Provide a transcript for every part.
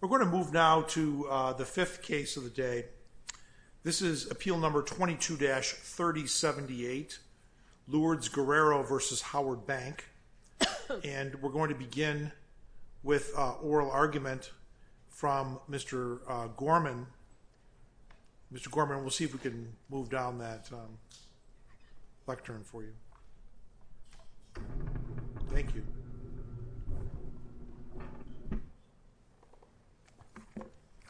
We're going to move now to the fifth case of the day. This is Appeal No. 22-3078, Lourdes Guerrero v. Howard Bank, and we're going to begin with oral argument from Mr. Gorman. Mr. Gorman, we'll see if we can move down that lectern for you. Thank you.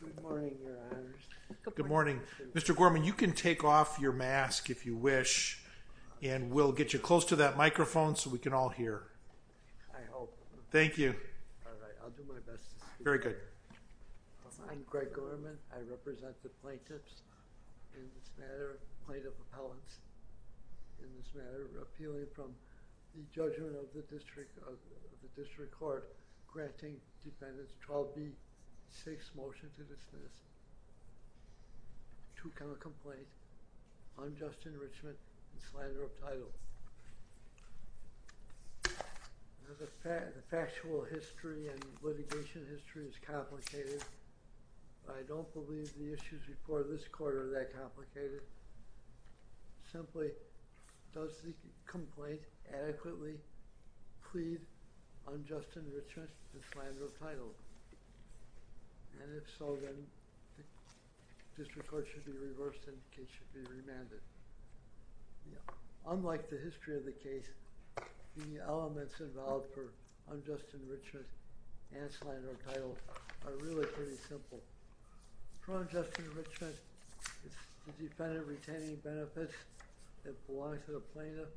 Good morning, Your Honors. Good morning. Mr. Gorman, you can take off your mask if you wish, and we'll get you close to that microphone so we can all hear. Thank you. All right, I'll do my best to speak. Very good. I'm Greg Gorman. I represent the plaintiffs in this matter, plaintiff appellants in this matter, appealing from the judgment of the district court, granting defendants 12B, 6, motion to dismiss, 2, counter-complaint, unjust enrichment, and slander of title. Now, the factual history and litigation history is complicated, but I don't believe the issues before this court are that complicated. Simply, does the complaint adequately plead unjust enrichment and slander of title? And if so, then district court should be reversed and the case should be remanded. Unlike the history of the case, the elements involved for unjust enrichment and slander of title are really pretty simple. For unjust enrichment, it's the defendant retaining benefits that belong to the plaintiff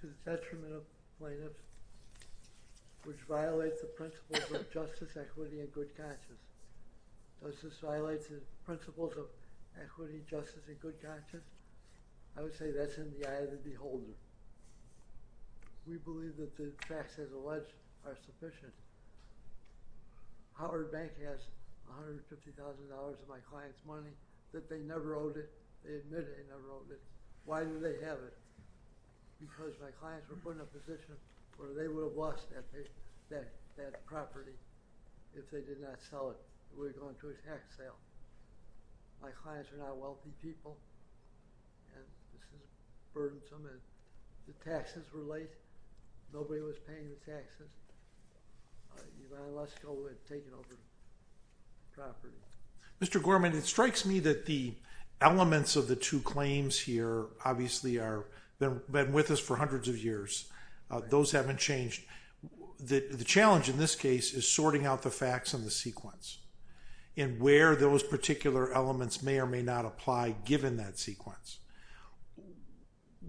to the detriment of the plaintiff, which violates the principles of justice, equity, and good conscience. Does this violate the principles of equity, justice, and good conscience? I would say that's in the eye of the beholder. We believe that the facts as alleged are sufficient. Howard Bank has $150,000 of my client's money that they never owed it. They admit they never owed it. Why do they have it? Because my clients were put in a position where they would have lost that property if they did not sell it. We were going to a tax sale. My clients are not wealthy people. This is burdensome. The taxes were late. Nobody was paying the taxes. Unilesco had taken over the property. Mr. Gorman, it strikes me that the elements of the two claims here obviously have been with us for hundreds of years. Those haven't changed. The challenge in this case is sorting out the facts in the sequence and where those particular elements may or may not apply given that sequence.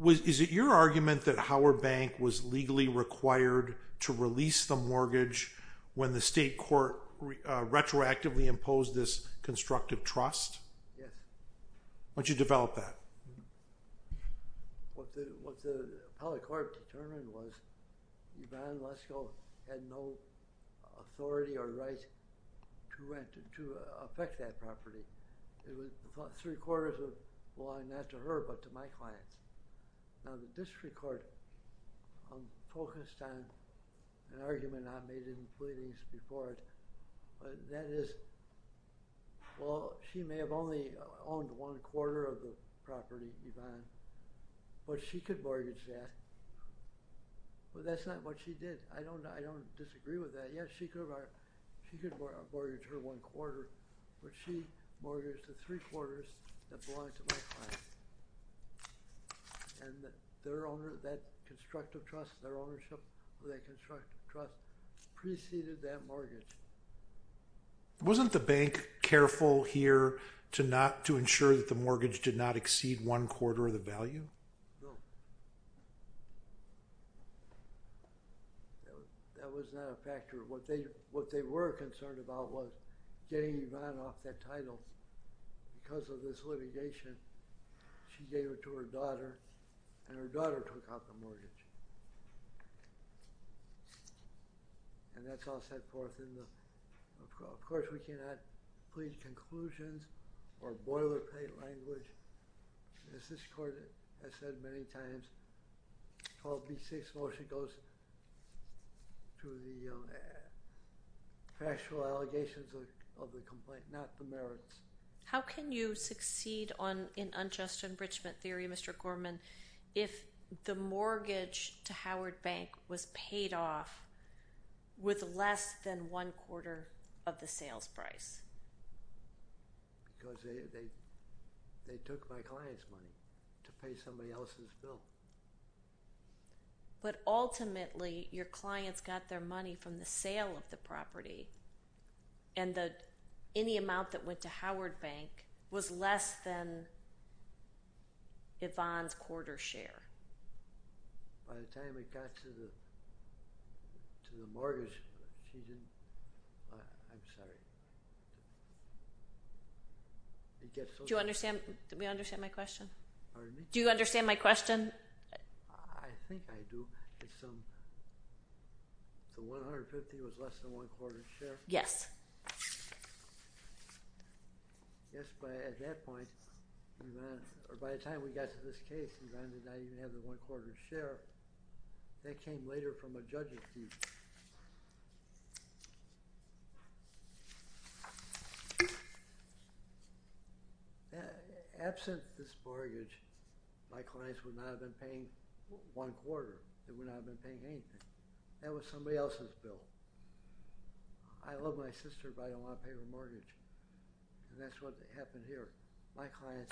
Is it your argument that Howard Bank was legally required to release the mortgage when the state court retroactively imposed this constructive trust? Yes. Why don't you develop that? What the appellate court determined was that Unilesco had no authority or right to affect that property. Three-quarters of it belonged not to her but to my clients. The district court focused on an argument I made in pleadings before it. She may have only owned one-quarter of the property, Yvonne, but she could mortgage that. That's not what she did. I don't disagree with that. Yes, she could mortgage her one-quarter, but she mortgaged the three-quarters that belonged to my client. That constructive trust, their ownership of that constructive trust preceded that mortgage. Wasn't the bank careful here to ensure that the mortgage did not exceed one-quarter of the value? That was not a factor. What they were concerned about was getting Yvonne off that title. Because of this litigation, she gave it to her daughter, and her daughter took out the mortgage. Of course, we cannot plead conclusions or boilerplate language. As this court has said many times, the 12B6 motion goes to the factual allegations of the complaint, not the merits. How can you succeed in unjust enrichment theory, Mr. Gorman, if the mortgage to Howard Bank was paid off with less than one-quarter of the sales price? Because they took my client's money to pay somebody else's bill. But ultimately, your clients got their money from the sale of the property, and any amount that went to Howard Bank was less than Yvonne's quarter share. By the time it got to the mortgage, she didn't... I'm sorry. Do you understand my question? Pardon me? Do you understand my question? I think I do. The $150,000 was less than one-quarter of the share? Yes. Yes, but at that point, or by the time we got to this case, Yvonne did not even have the one-quarter share. That came later from a judge's view. Absent this mortgage, my clients would not have been paying one-quarter. They would not have been paying anything. That was somebody else's bill. I love my sister, but I don't want to pay her mortgage. And that's what happened here. My clients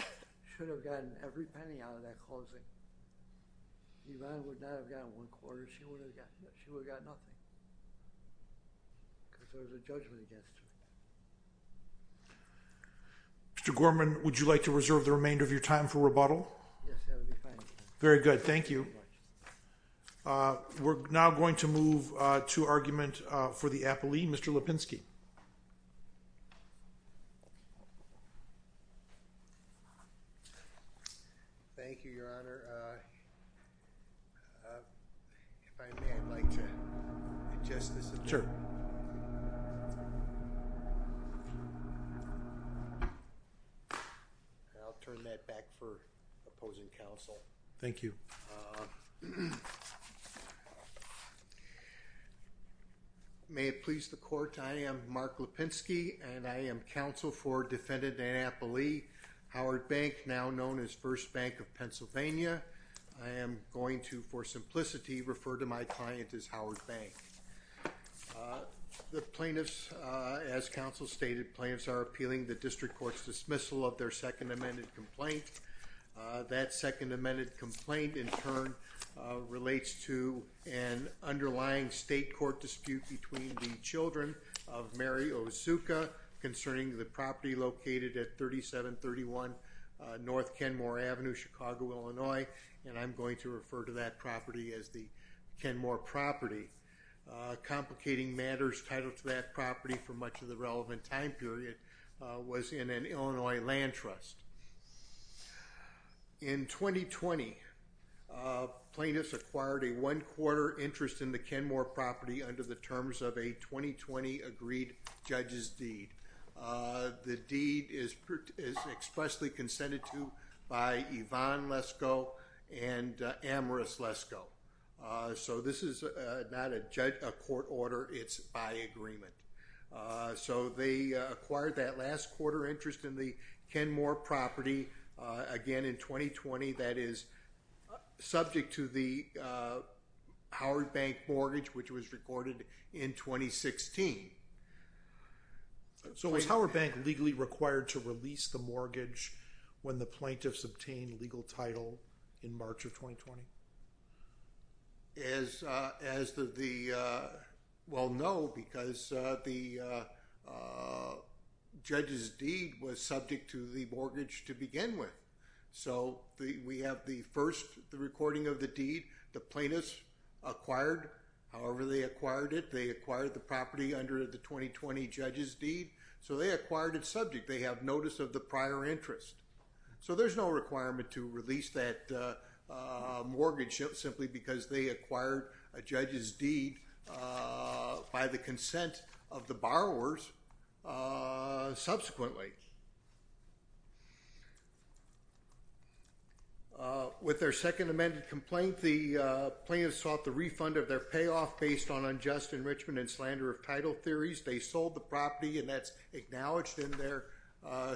should have gotten every penny out of that closing. Yvonne would not have gotten one-quarter. She would have gotten nothing. Because there was a judgment against her. Mr. Gorman, would you like to reserve the remainder of your time for rebuttal? Yes, that would be fine. Very good. Thank you. We're now going to move to argument for the appellee. Mr. Lipinski. Thank you, Your Honor. If I may, I'd like to adjust this. I'll turn that back for opposing counsel. Thank you. May it please the Court. I am Mark Lipinski, and I am counsel for defendant and appellee Howard Bank, now known as First Bank of Pennsylvania. I am going to, for simplicity, refer to my client as Howard Bank. The plaintiffs, as counsel stated, are appealing the district court's dismissal of their second amended complaint. That second amended complaint, in turn, relates to an underlying state court dispute between the children of Mary Ozuka concerning the property located at 3731 North Kenmore Avenue, Chicago, Illinois. And I'm going to refer to that property as the Kenmore property. Complicating matters, title to that property for much of the relevant time period was in an Illinois land trust. In 2020, plaintiffs acquired a one-quarter interest in the Kenmore property under the terms of a 2020 agreed judge's deed. The deed is expressly consented to by Yvonne Lesko and Amaris Lesko. So this is not a court order, it's by agreement. So they acquired that last quarter interest in the Kenmore property again in 2020, that is, subject to the Howard Bank mortgage, which was recorded in 2016. So was Howard Bank legally required to release the mortgage when the plaintiffs obtained legal title in March of 2020? As the, well, no, because the judge's deed was subject to the mortgage to begin with. So we have the first recording of the deed, the plaintiffs acquired, however they acquired it, they acquired the property under the 2020 judge's deed, so they acquired it subject, they have notice of the prior interest. So there's no requirement to release that mortgage simply because they acquired a judge's deed by the consent of the borrowers subsequently. With their second amended complaint, the plaintiffs sought the refund of their payoff based on unjust enrichment and slander of title theories. They sold the property and that's acknowledged in their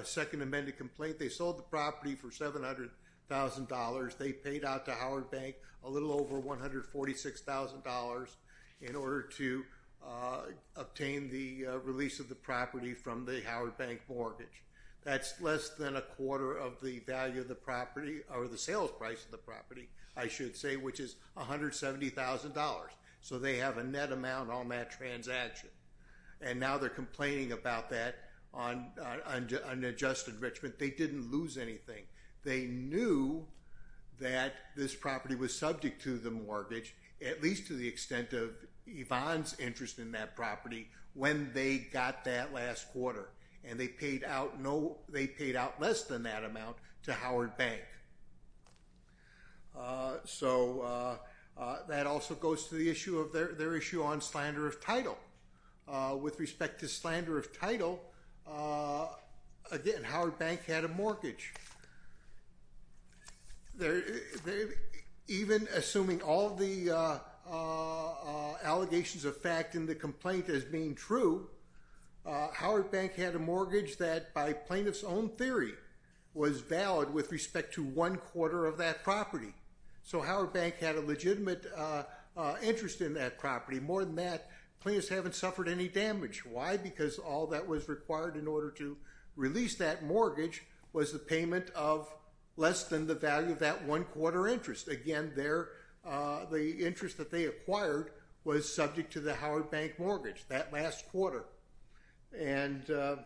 second amended complaint. They sold the property for $700,000. They paid out to Howard Bank a little over $146,000. in order to obtain the release of the property from the Howard Bank mortgage. That's less than a quarter of the value of the property, or the sales price of the property, I should say, which is $170,000. So they have a net amount on that transaction. And now they're complaining about that on unjust enrichment, they didn't lose anything. They knew that this property was subject to the mortgage, at least to the extent of Yvonne's interest in that property, when they got that last quarter. And they paid out less than that amount to Howard Bank. So that also goes to their issue on slander of title. With respect to slander of title, again, Howard Bank had a mortgage. Even assuming all the allegations of fact in the complaint as being true, Howard Bank had a mortgage that, by plaintiff's own theory, was valid with respect to one quarter of that property. So Howard Bank had a legitimate interest in that property. More than that, plaintiffs haven't suffered any damage. in order to release that mortgage was the payment of less than the value of that one quarter interest. Again, the interest that they acquired was subject to the Howard Bank mortgage that last quarter. So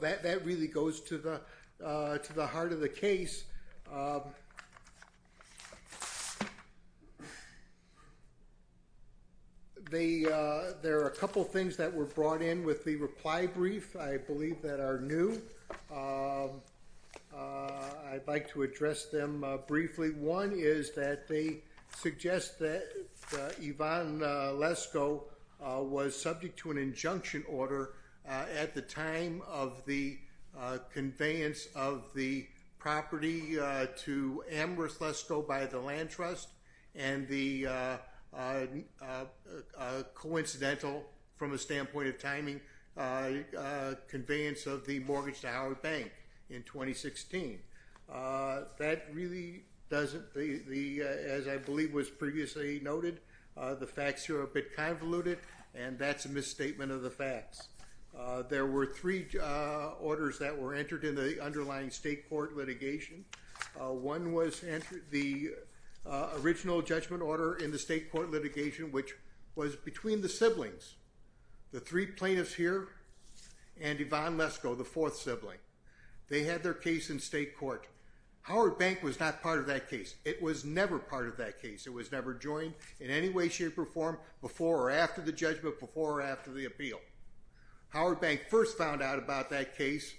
that really goes to the heart of the case. There are a couple things that were brought in with the reply brief, I believe that are new. I'd like to address them briefly. One is that they suggest that Yvonne Lesko was subject to an injunction order at the time of the conveyance of the property to Amherst Lesko by the land trust and the coincidental, from a standpoint of timing, conveyance of the mortgage to Howard Bank in 2016. That really doesn't, as I believe was previously noted, the facts here are a bit convoluted, and that's a misstatement of the facts. There were three orders that were entered in the underlying state court litigation. One was the original judgment order in the state court litigation, which was between the siblings. The three plaintiffs here and Yvonne Lesko, the fourth sibling, they had their case in state court. Howard Bank was not part of that case. It was never part of that case. It was never joined in any way, shape, or form before or after the judgment, before or after the appeal. Howard Bank first found out about that case,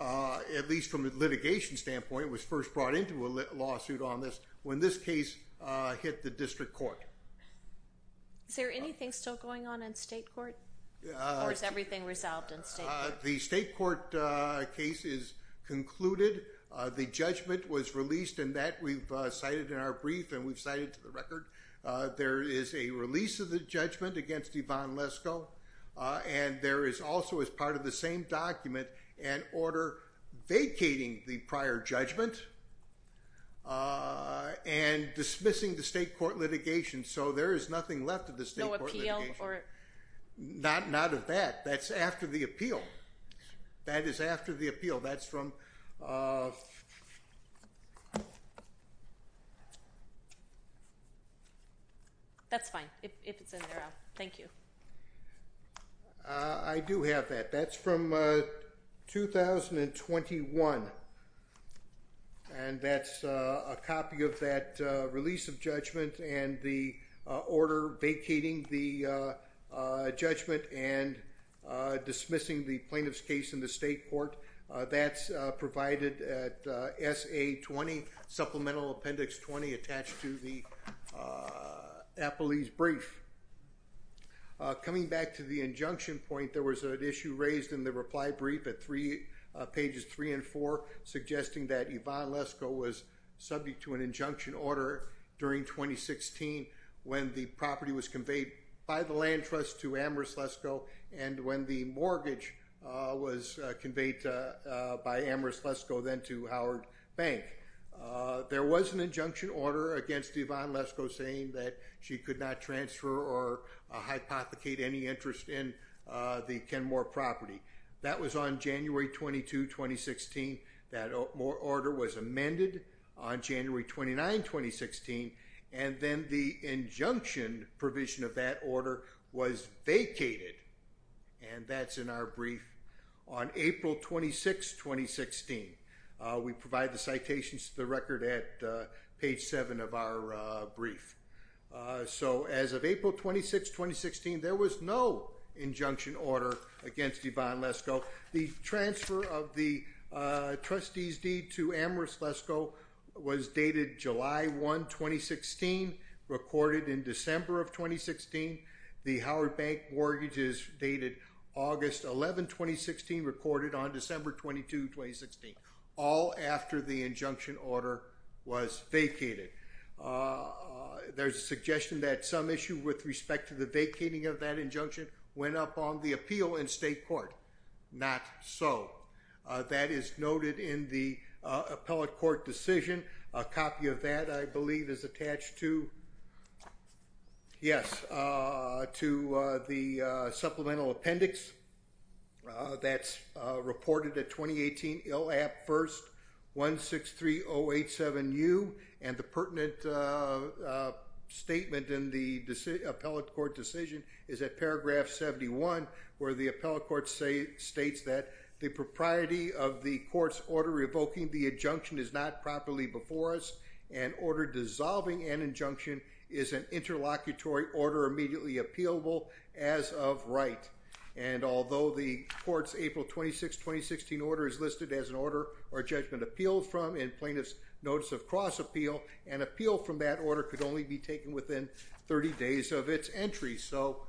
at least from a litigation standpoint, was first brought into a lawsuit on this when this case hit the district court. Is there anything still going on in state court? Or is everything resolved in state court? The state court case is concluded. The judgment was released, and that we've cited in our brief, and we've cited to the record. There is a release of the judgment against Yvonne Lesko, and there is also, as part of the same document, an order vacating the prior judgment and dismissing the state court litigation. So there is nothing left of the state court litigation. No appeal? Not of that. That's after the appeal. That is after the appeal. That's from... That's fine, if it's in there. Thank you. I do have that. That's from 2021. And that's a copy of that release of judgment, and the order vacating the judgment and dismissing the plaintiff's case in the state court. That's provided at SA 20, supplemental appendix 20, attached to the appellee's brief. Coming back to the injunction point, there was an issue raised in the reply brief at pages 3 and 4, suggesting that Yvonne Lesko was subject to an injunction order during 2016 when the property was conveyed by the land trust to Amherst Lesko, and when the mortgage was conveyed by Amherst Lesko, then to Howard Bank. There was an injunction order against Yvonne Lesko saying that she could not transfer or hypothecate any interest in the Kenmore property. That was on January 22, 2016. That order was amended on January 29, 2016, and then the injunction provision of that order was vacated, and that's in our brief on April 26, 2016. We provide the citations to the record at page 7 of our brief. So as of April 26, 2016, there was no injunction order against Yvonne Lesko. The transfer of the trustee's deed to Amherst Lesko was dated July 1, 2016, recorded in December of 2016. The Howard Bank mortgages dated August 11, 2016, recorded on December 22, 2016, all after the injunction order was vacated. There's a suggestion that some issue with respect to the vacating of that injunction went up on the appeal in state court. Not so. That is noted in the appellate court decision. A copy of that, I believe, is attached to, yes, to the supplemental appendix that's reported at 2018 ILAP 1st 163087U, and the pertinent statement in the appellate court decision is at paragraph 71, where the appellate court states that the propriety of the court's order revoking the injunction is not properly before us and order dissolving an injunction is an interlocutory order immediately appealable as of right. And although the court's April 26, 2016 order is listed as an order or judgment appealed from in plaintiff's notice of cross appeal, an appeal from that order could only be taken within 30 days of its entry. So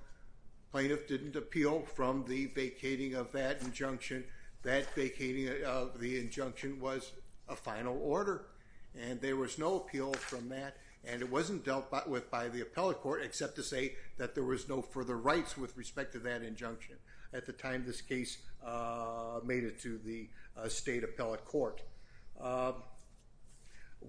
plaintiff didn't appeal from the vacating of that injunction. That vacating of the injunction was a final order, and there was no appeal from that, and it wasn't dealt with by the appellate court except to say that there was no further rights with respect to that injunction at the time this case made it to the state appellate court.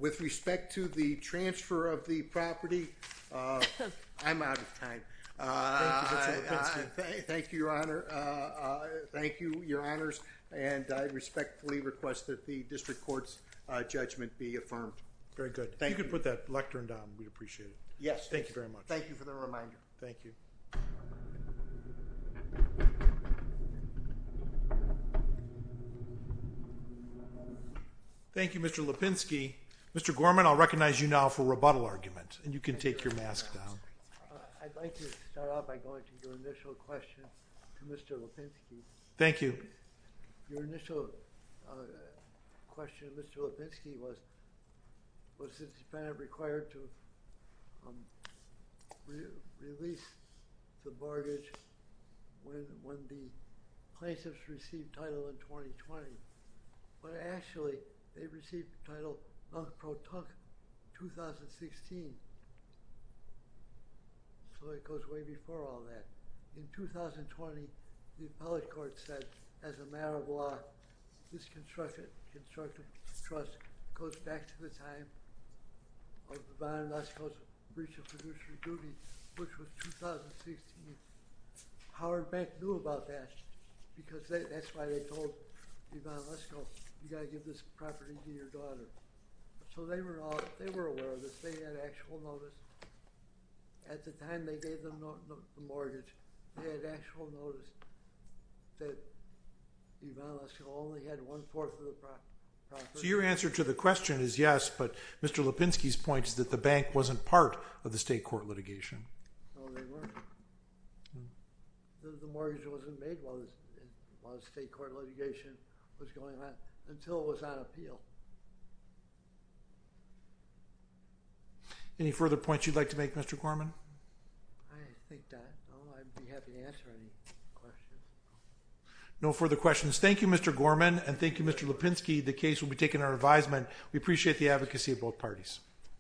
With respect to the transfer of the property, I'm out of time. Thank you, Mr. Lipinski. Thank you, Your Honor. Thank you, Your Honors, and I respectfully request that the district court's judgment be affirmed. Very good. Thank you. You can put that lectern down. We'd appreciate it. Yes. Thank you very much. Thank you for the reminder. Thank you. Thank you, Mr. Lipinski. Mr. Gorman, I'll recognize you now for rebuttal argument, and you can take your mask down. I'd like to start off by going to your initial question to Mr. Lipinski. Thank you. Your initial question to Mr. Lipinski was, was the defendant required to release the mortgage when the plaintiffs received title in 2020? Well, actually, they received the title in 2016, so it goes way before all that. In 2020, the appellate court said, as a matter of law, this constructive trust goes back to the time of the bondless breach of fiduciary duty, which was 2016. Howard Bank knew about that because that's why they told Ivan Lesko, you've got to give this property to your daughter. So they were aware of this. They had actual notice. At the time they gave them the mortgage, they had actual notice that Ivan Lesko only had one-fourth of the property. So your answer to the question is yes, but Mr. Lipinski's point is that the bank wasn't part of the state court litigation. No, they weren't. The mortgage wasn't made while it was state court litigation was going on until it was on appeal. Any further points you'd like to make, Mr. Gorman? I think that I'd be happy to answer any questions. No further questions. Thank you, Mr. Gorman, and thank you, Mr. Lipinski. The case will be taken under advisement. We appreciate the advocacy of both parties.